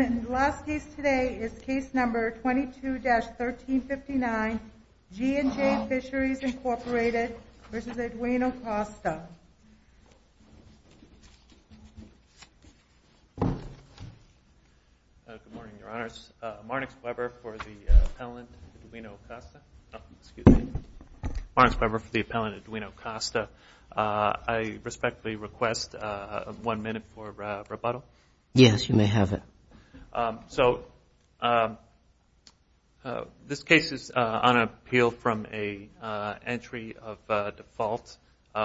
G&J Fisheries, Inc. v. Edwina Costa Good morning, Your Honors. Marnix Weber for the appellant Edwina Costa. I respectfully request one minute for rebuttal. Yes, you may have it. This case is on appeal from an entry of default.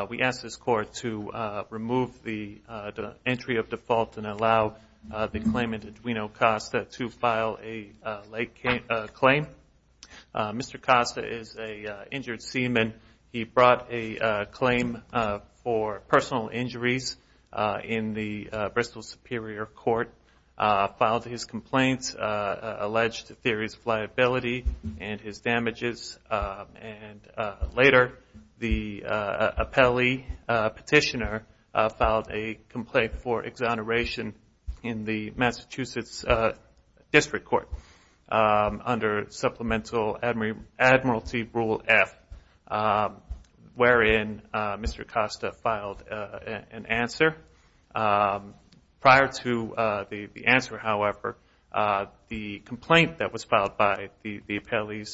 We ask this Court to remove the entry of default and allow the claimant, Edwina Costa, to file a late claim. Mr. Costa is an injured seaman. He brought a claim for personal injuries in the Bristol Superior Court, filed his complaints, alleged theories of liability and his damages, and later the appellee petitioner filed a complaint for exoneration in the Massachusetts District Court under supplemental Admiralty Rule F. wherein Mr. Costa filed an answer. Prior to the answer, however, the complaint that was filed by the appellee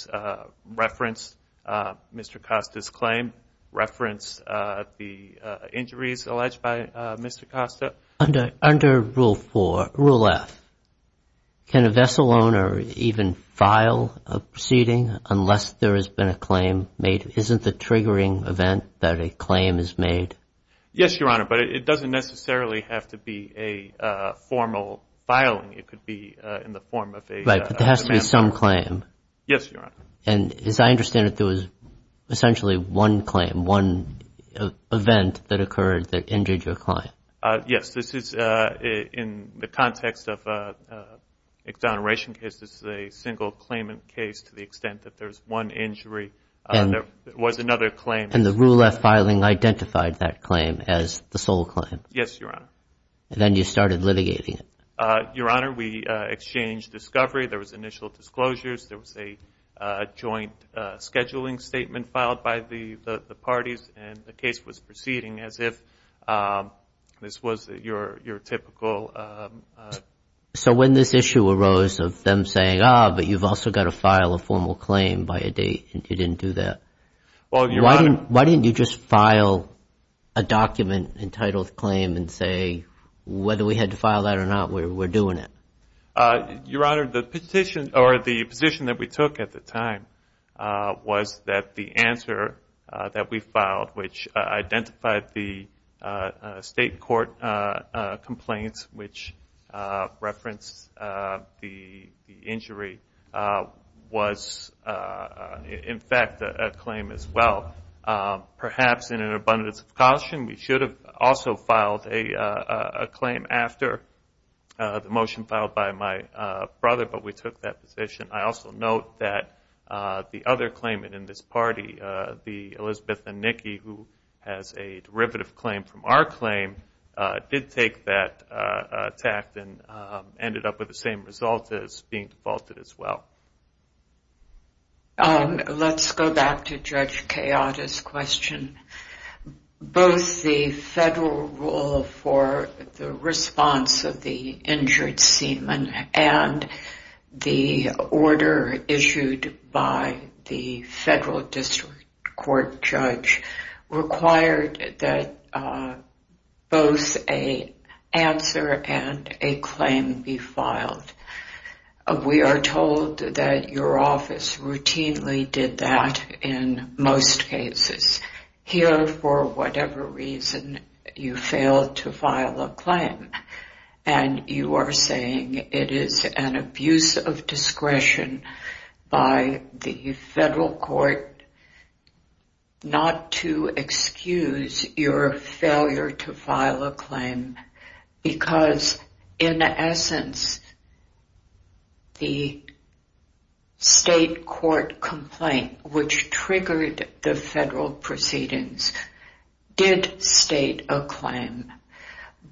referenced Mr. Costa's claim, referenced the injuries alleged by Mr. Costa. Under Rule F, can a vessel owner even file a proceeding unless there has been a claim made? Isn't the triggering event that a claim is made? Yes, Your Honor, but it doesn't necessarily have to be a formal filing. It could be in the form of a- Right, but there has to be some claim. Yes, Your Honor. And as I understand it, there was essentially one claim, one event that occurred that injured your client. Yes, this is in the context of exoneration cases, a single claimant case to the extent that there's one injury. There was another claim. And the Rule F filing identified that claim as the sole claim. Yes, Your Honor. And then you started litigating it. Your Honor, we exchanged discovery. There was initial disclosures. There was a joint scheduling statement filed by the parties, and the case was proceeding as if this was your typical- So when this issue arose of them saying, ah, but you've also got to file a formal claim by a date, and you didn't do that- Well, Your Honor- Why didn't you just file a document entitled claim and say, whether we had to file that or not, we're doing it? Your Honor, the position that we took at the time was that the answer that we referenced, the injury, was, in fact, a claim as well. Perhaps in an abundance of caution, we should have also filed a claim after the motion filed by my brother, but we took that position. I also note that the other claimant in this party, the Elizabeth and Nikki, who has a derivative claim from our claim, did take that tact and ended up with the same result as being defaulted as well. Let's go back to Judge Chiata's question. Both the federal rule for the response of the injured seaman and the order issued by the federal district court judge required that both an answer and a claim be filed. We are told that your office routinely did that in most cases. Here, for whatever reason, you failed to file a claim, and you are saying it is an abuse of discretion by the federal court not to excuse your failure to file a claim because, in essence, the state court complaint, which triggered the federal proceedings, did state a claim.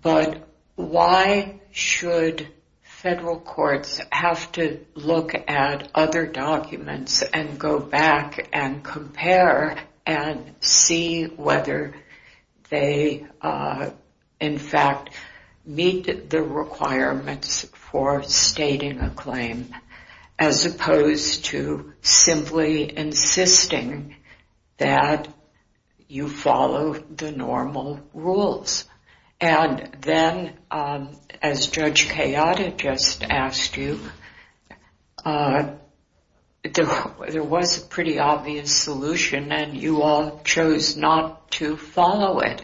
But why should federal courts have to look at other documents and go back and compare and see whether they, in fact, meet the requirements for stating a claim as opposed to simply insisting that you follow the normal rules? Then, as Judge Chiata just asked you, there was a pretty obvious solution, and you all chose not to follow it.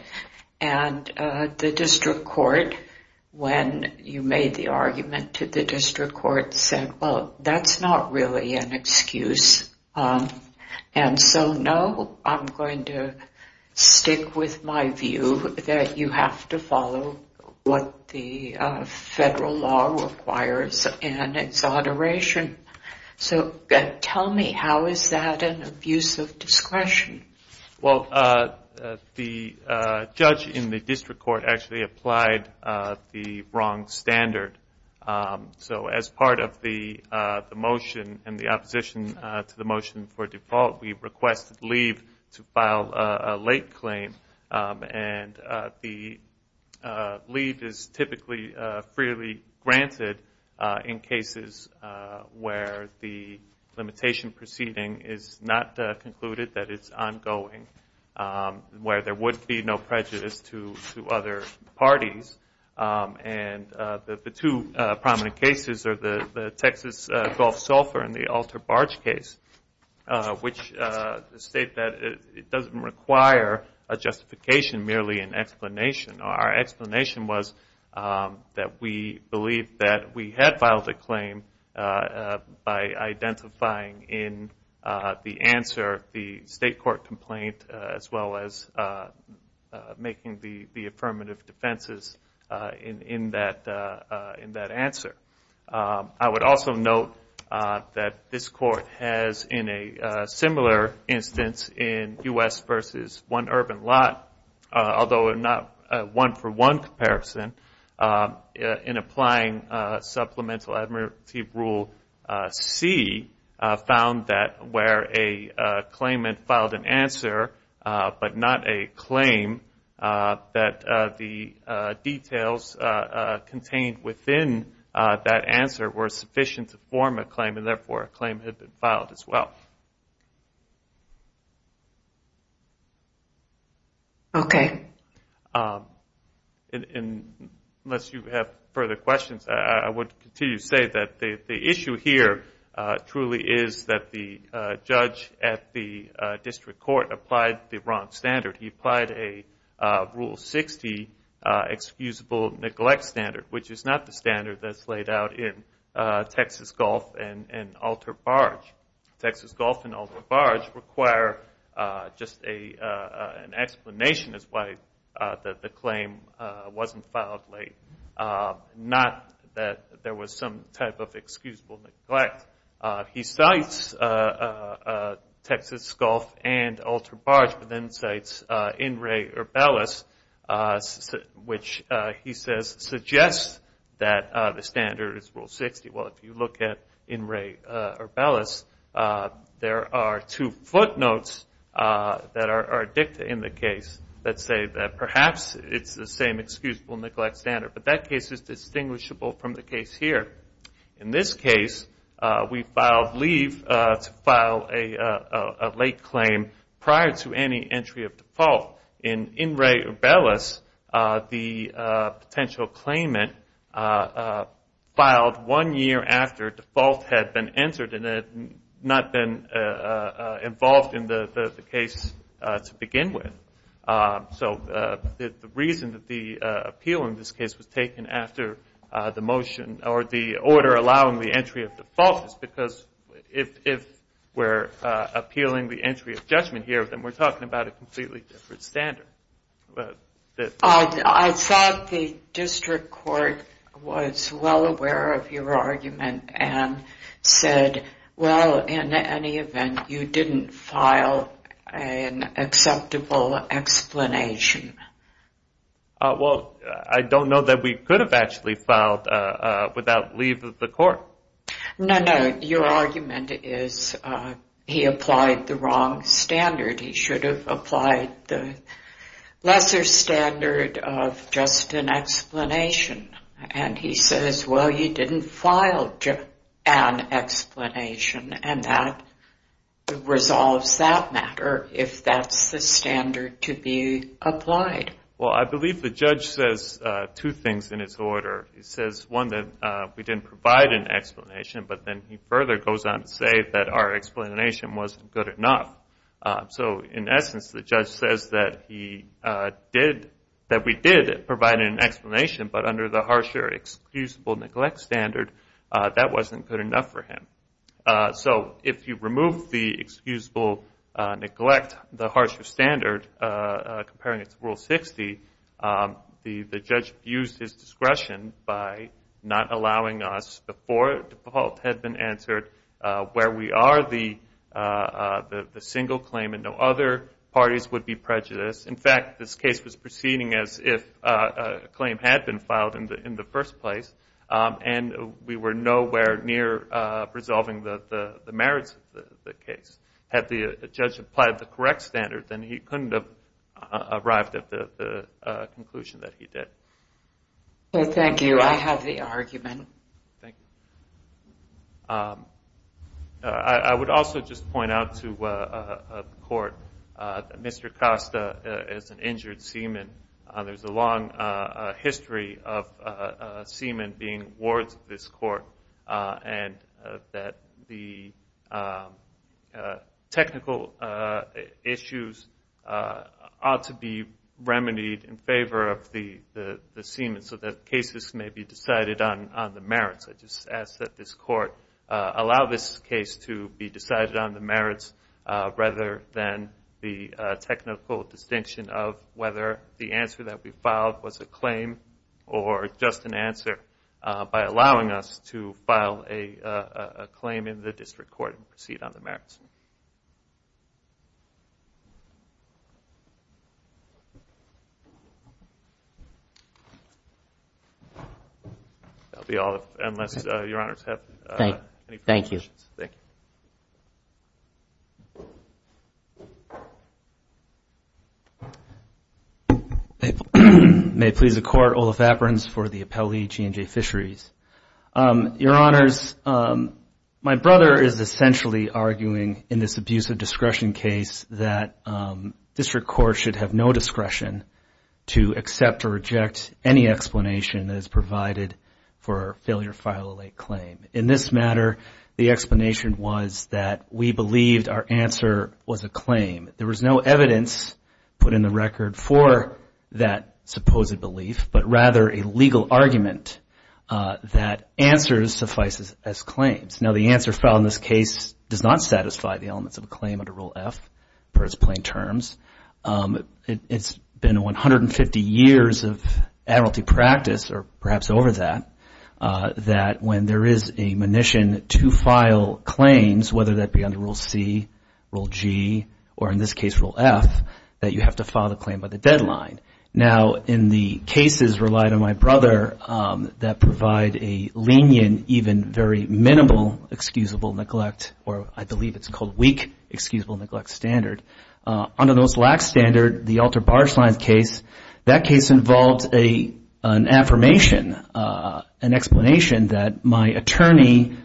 And the district court, when you made the argument to the district court, said, well, that's not really an excuse. And so, no, I'm going to stick with my view that you have to follow what the federal law requires in its adoration. So tell me, how is that an abuse of discretion? Well, the judge in the district court actually applied the wrong standard. So as part of the motion and the opposition to the motion for default, we requested leave to file a late claim. And the leave is typically freely granted in cases where the limitation proceeding is not concluded, that it's ongoing, where there would be no prejudice to other parties. And the two prominent cases are the Texas Gulf Sulphur and the Alter Barge case, which state that it doesn't require a justification, merely an explanation. Our explanation was that we believed that we had filed a claim by identifying in the answer the state court complaint as well as making the affirmative defenses in that answer. I would also note that this court has in a similar instance in U.S. versus one urban lot, although not a one-for-one comparison, in applying supplemental administrative rule C, found that where a claimant filed an answer but not a claim, that the details contained within that answer were sufficient to form a claim and therefore a claim had been filed as well. Okay. Unless you have further questions, I would continue to say that the issue here truly is that the judge at the district court applied the wrong standard. He applied a Rule 60 excusable neglect standard, which is not the standard that's laid out in Texas Gulf and Alter Barge. Texas Gulf and Alter Barge require just an explanation as to why the claim wasn't filed late, not that there was some type of excusable neglect. He cites Texas Gulf and Alter Barge, and then cites In Re Urbelis, which he says suggests that the standard is Rule 60. Well, if you look at In Re Urbelis, there are two footnotes that are dicta in the case that say that perhaps it's the same excusable neglect standard. But that case is distinguishable from the case here. In this case, we filed leave to file a late claim prior to any entry of default. In In Re Urbelis, the potential claimant filed one year after default had been entered and had not been involved in the case to begin with. So the reason that the appeal in this case was taken after the motion, or the order allowing the entry of default, is because if we're appealing the entry of judgment here, then we're talking about a completely different standard. I thought the district court was well aware of your argument and said, well, in any event, you didn't file an acceptable explanation. Well, I don't know that we could have actually filed without leave of the court. No, no. Your argument is he applied the wrong standard. He should have applied the lesser standard of just an explanation. And he says, well, you didn't file just an explanation, and that resolves that matter if that's the standard to be applied. Well, I believe the judge says two things in his order. He says, one, that we didn't provide an explanation, but then he further goes on to say that our explanation wasn't good enough. So, in essence, the judge says that we did provide an explanation, but under the harsher excusable neglect standard, that wasn't good enough for him. So if you remove the excusable neglect, the harsher standard, comparing it to Rule 60, the judge abused his discretion by not allowing us before default had been answered where we are the single claim and no other parties would be prejudiced. In fact, this case was proceeding as if a claim had been filed in the first place, and we were nowhere near resolving the merits of the case. Had the judge applied the correct standard, then he couldn't have arrived at the conclusion that he did. Thank you. I have the argument. Thank you. I would also just point out to the court that Mr. Costa is an injured seaman. There's a long history of seamen being wards of this court, and that the technical issues ought to be remedied in favor of the seaman so that cases may be decided on the merits. I just ask that this court allow this case to be decided on the merits rather than the technical distinction of whether the answer that we filed was a claim or just an answer by allowing us to file a claim in the district court and proceed on the merits. That will be all unless Your Honors have any questions. Thank you. Thank you. Thank you. May it please the Court, Olaf Aperins for the Appellee G&J Fisheries. Your Honors, my brother is essentially arguing in this abuse of discretion case that district courts should have no discretion to accept or reject any explanation that is provided for a failure to file a late claim. In this matter, the explanation was that we believed our answer was a claim. There was no evidence put in the record for that supposed belief, but rather a legal argument that answers suffice as claims. Now the answer filed in this case does not satisfy the elements of a claim under Rule F, per its plain terms. It's been 150 years of admiralty practice, or perhaps over that, that when there is a munition to file claims, whether that be under Rule C, Rule G, or in this case, Rule F, that you have to file the claim by the deadline. Now in the cases relied on my brother that provide a lenient, even very minimal excusable neglect, or I believe it's called weak excusable neglect standard, under those lack standard, the altar bar signs case, that case involved an affirmation, an explanation, that my attorney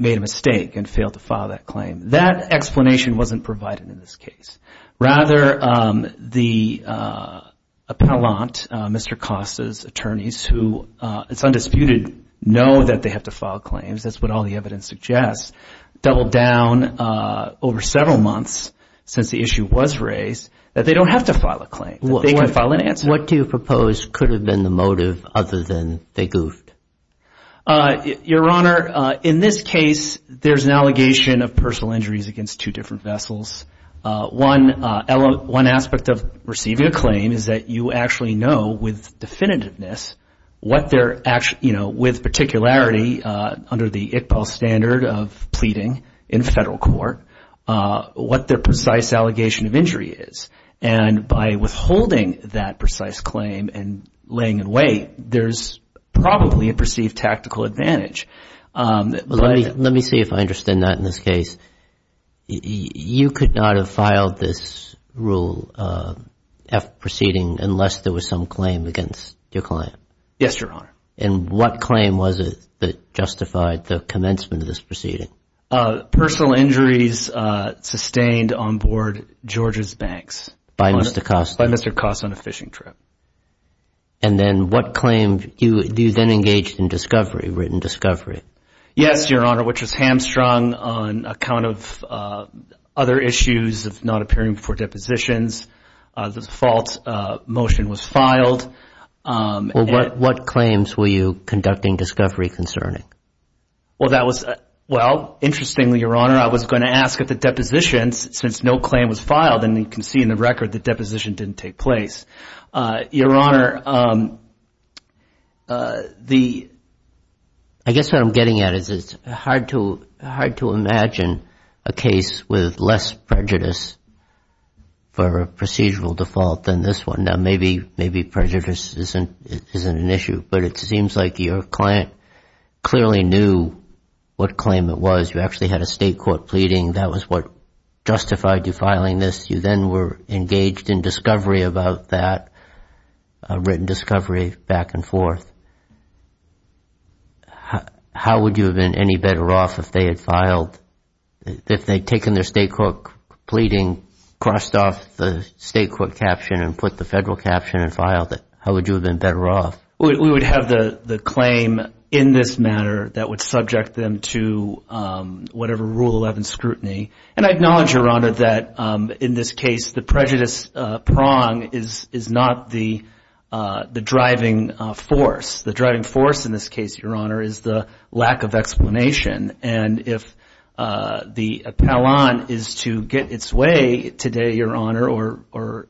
made a mistake and failed to file that claim. That explanation wasn't provided in this case. Rather, the appellant, Mr. Costa's attorneys, who it's undisputed know that they have to file claims, that's what all the evidence suggests, doubled down over several months since the issue was raised, that they don't have to file a claim, that they can file an answer. What do you propose could have been the motive other than they goofed? Your Honor, in this case, there's an allegation of personal injuries against two different vessels. One aspect of receiving a claim is that you actually know with definitiveness what their, you know, with particularity, under the ICPAL standard of pleading in federal court, what their precise allegation of injury is. And by withholding that precise claim and laying in wait, there's probably a perceived tactical advantage. Let me see if I understand that in this case. You could not have filed this rule proceeding unless there was some claim against your client? Yes, Your Honor. And what claim was it that justified the commencement of this proceeding? Personal injuries sustained on board Georgia's banks. By Mr. Koss. By Mr. Koss on a fishing trip. And then what claim? You then engaged in discovery, written discovery. Yes, Your Honor, which was hamstrung on account of other issues of not appearing before depositions. The default motion was filed. Well, what claims were you conducting discovery concerning? Well, that was, well, interestingly, Your Honor, I was going to ask if the depositions, since no claim was filed, and you can see in the record the deposition didn't take place. Your Honor, the – I guess what I'm getting at is it's hard to imagine a case with less prejudice for a procedural default than this one. Now, maybe prejudice isn't an issue, but it seems like your client clearly knew what claim it was. You actually had a state court pleading. That was what justified you filing this. You then were engaged in discovery about that, written discovery back and forth. How would you have been any better off if they had filed – if they had taken their state court pleading, crossed off the state court caption and put the federal caption and filed it, how would you have been better off? We would have the claim in this matter that would subject them to whatever Rule 11 scrutiny. And I acknowledge, Your Honor, that in this case the prejudice prong is not the driving force. The driving force in this case, Your Honor, is the lack of explanation. And if the appellant is to get its way today, Your Honor, or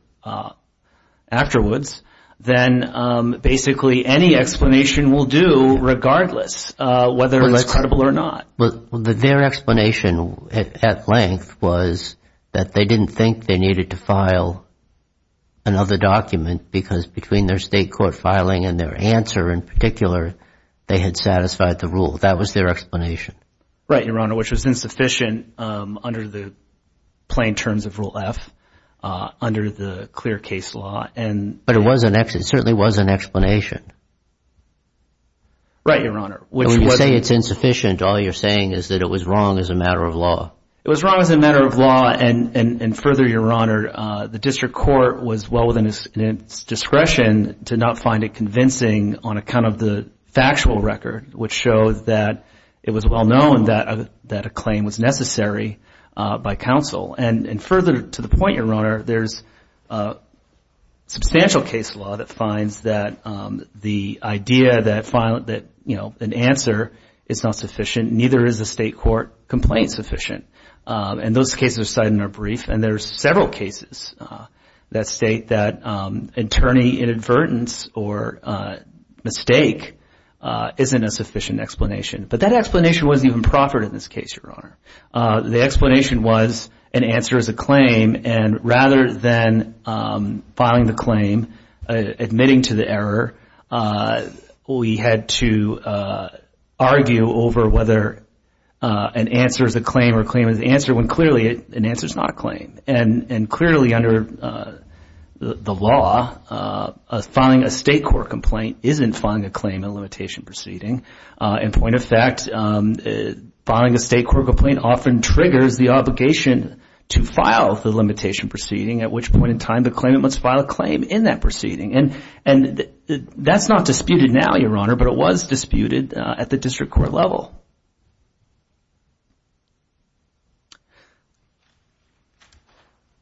afterwards, then basically any explanation will do regardless whether it's credible or not. Their explanation at length was that they didn't think they needed to file another document because between their state court filing and their answer in particular, they had satisfied the rule. That was their explanation. Right, Your Honor, which was insufficient under the plain terms of Rule F, under the clear case law. But it certainly was an explanation. Right, Your Honor. When you say it's insufficient, all you're saying is that it was wrong as a matter of law. It was wrong as a matter of law. And further, Your Honor, the district court was well within its discretion to not find it convincing on account of the factual record, which shows that it was well known that a claim was necessary by counsel. And further to the point, Your Honor, there's substantial case law that finds that the idea that an answer is not sufficient, neither is a state court complaint sufficient. And those cases are cited in our brief. And there are several cases that state that attorney inadvertence or mistake isn't a sufficient explanation. But that explanation wasn't even proffered in this case, Your Honor. The explanation was an answer is a claim. And rather than filing the claim, admitting to the error, we had to argue over whether an answer is a claim or a claim is an answer, when clearly an answer is not a claim. And clearly under the law, filing a state court complaint isn't filing a claim in a limitation proceeding. In point of fact, filing a state court complaint often triggers the obligation to file the limitation proceeding, at which point in time the claimant must file a claim in that proceeding. And that's not disputed now, Your Honor, but it was disputed at the district court level.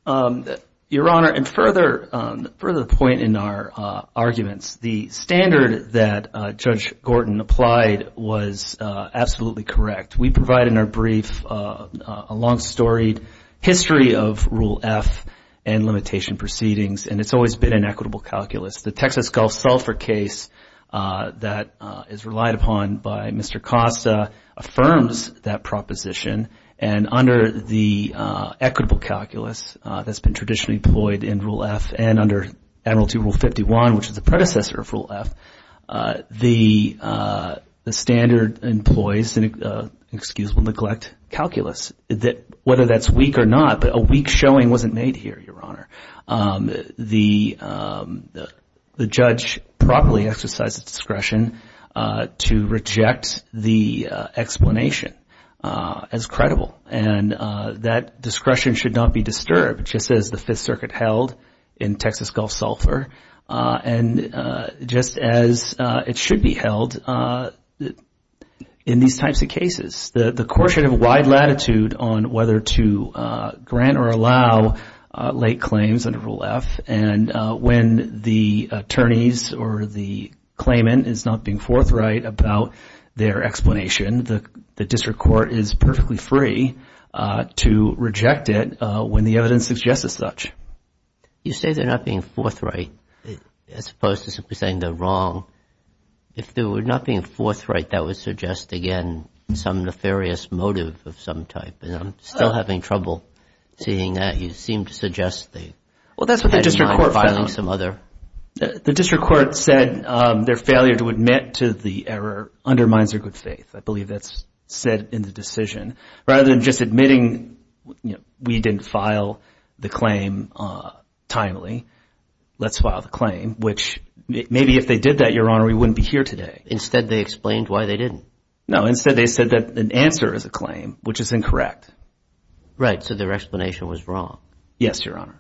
Your Honor, and further to the point in our arguments, the standard that Judge Gordon applied was absolutely correct. We provide in our brief a long-storied history of Rule F and limitation proceedings, and it's always been an equitable calculus. The Texas Gulf Sulphur case that is relied upon by Mr. Costa affirms that proposition. And under the equitable calculus that's been traditionally employed in Rule F and under Admiralty Rule 51, which is the predecessor of Rule F, the standard employs an excusable neglect calculus, whether that's weak or not. But a weak showing wasn't made here, Your Honor. The judge properly exercised discretion to reject the explanation as credible. And that discretion should not be disturbed. Just as the Fifth Circuit held in Texas Gulf Sulphur, and just as it should be held in these types of cases. The courts should have a wide latitude on whether to grant or allow late claims under Rule F. And when the attorneys or the claimant is not being forthright about their explanation, the district court is perfectly free to reject it when the evidence suggests as such. You say they're not being forthright as opposed to simply saying they're wrong. If they were not being forthright, that would suggest, again, some nefarious motive of some type. And I'm still having trouble seeing that. You seem to suggest they had in mind violating some other. The district court said their failure to admit to the error undermines their good faith. I believe that's said in the decision. Rather than just admitting we didn't file the claim timely, let's file the claim, which maybe if they did that, Your Honor, we wouldn't be here today. Instead they explained why they didn't. No, instead they said that an answer is a claim, which is incorrect. Right, so their explanation was wrong. Yes, Your Honor.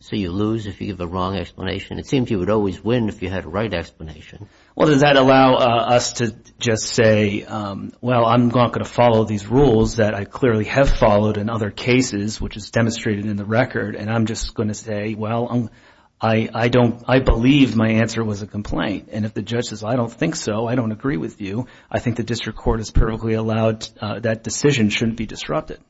So you lose if you give the wrong explanation? It seems you would always win if you had a right explanation. Well, does that allow us to just say, well, I'm not going to follow these rules that I clearly have followed in other cases, which is demonstrated in the record, and I'm just going to say, well, I believe my answer was a complaint. And if the judge says, I don't think so, I don't agree with you, I think the district court is perfectly allowed that decision shouldn't be disrupted.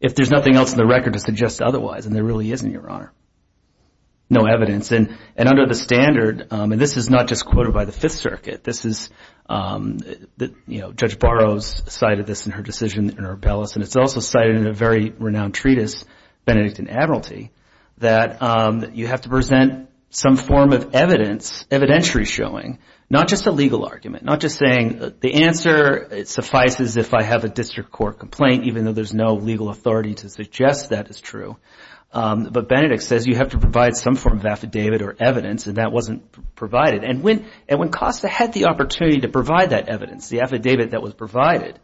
If there's nothing else in the record to suggest otherwise, and there really isn't, Your Honor. No evidence. And under the standard, and this is not just quoted by the Fifth Circuit, this is, you know, Judge Barrows cited this in her decision in her appellate, and it's also cited in a very renowned treatise, Benedictine Admiralty, that you have to present some form of evidence, evidentiary showing, not just a legal argument, not just saying the answer suffices if I have a district court complaint, even though there's no legal authority to suggest that is true. But Benedict says you have to provide some form of affidavit or evidence, and that wasn't provided. And when Costa had the opportunity to provide that evidence, the affidavit that was provided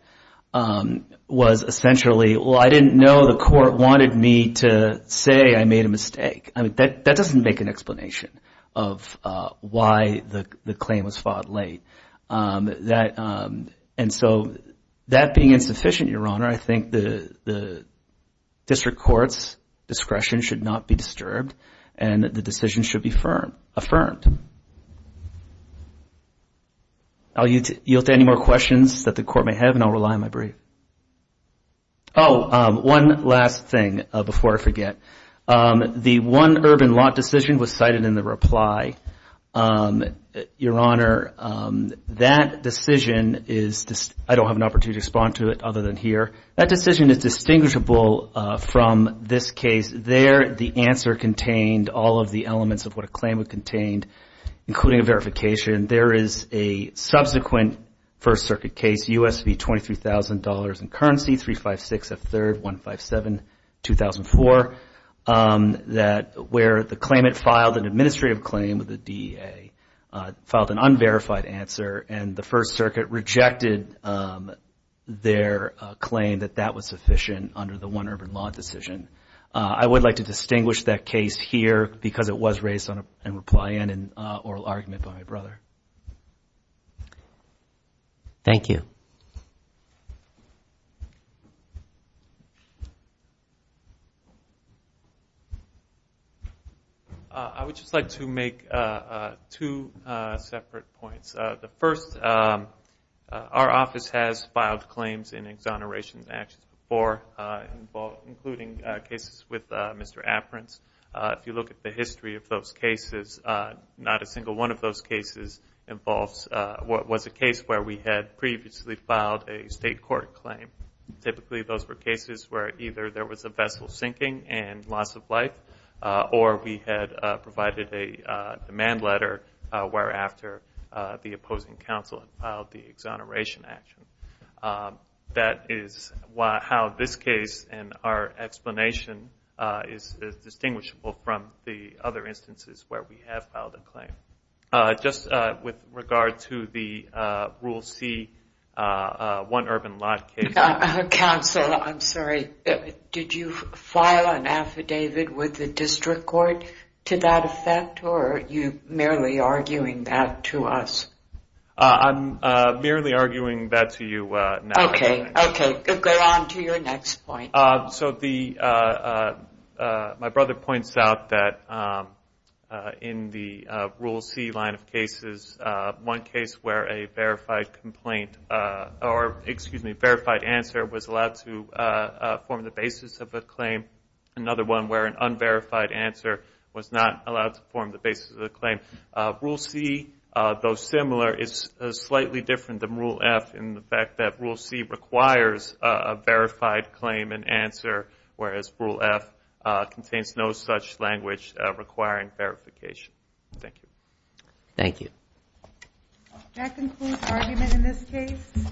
was essentially, well, I didn't know the court wanted me to say I made a mistake. I mean, that doesn't make an explanation of why the claim was filed late. And so that being insufficient, Your Honor, I think the district court's discretion should not be disturbed and the decision should be affirmed. I'll yield to any more questions that the court may have, and I'll rely on my brief. Oh, one last thing before I forget. The one urban lot decision was cited in the reply. Your Honor, that decision is – I don't have an opportunity to respond to it other than here. That decision is distinguishable from this case. There, the answer contained all of the elements of what a claim would contain, including a verification. There is a subsequent First Circuit case, U.S. v. $23,000 in Currency, 356 F. 3rd, 157, 2004, where the claimant filed an administrative claim with the DEA, filed an unverified answer, and the First Circuit rejected their claim that that was sufficient under the one urban lot decision. I would like to distinguish that case here because it was raised in reply and an oral argument by my brother. Thank you. I would just like to make two separate points. The first, our office has filed claims in exoneration actions before, including cases with Mr. Aperin's. If you look at the history of those cases, not a single one of those cases involves – was a case where we had previously filed a state court claim. Typically, those were cases where either there was a vessel sinking and loss of life, or we had provided a demand letter where after the opposing counsel had filed the exoneration action. That is how this case and our explanation is distinguishable from the other instances where we have filed a claim. Just with regard to the Rule C, one urban lot case. I'm sorry, did you file an affidavit with the district court to that effect, or are you merely arguing that to us? I'm merely arguing that to you now. Okay, go on to your next point. My brother points out that in the Rule C line of cases, one case where a verified answer was allowed to form the basis of a claim. Another one where an unverified answer was not allowed to form the basis of the claim. Rule C, though similar, is slightly different than Rule F in the fact that Rule C requires a verified claim and answer, whereas Rule F contains no such language requiring verification. Thank you.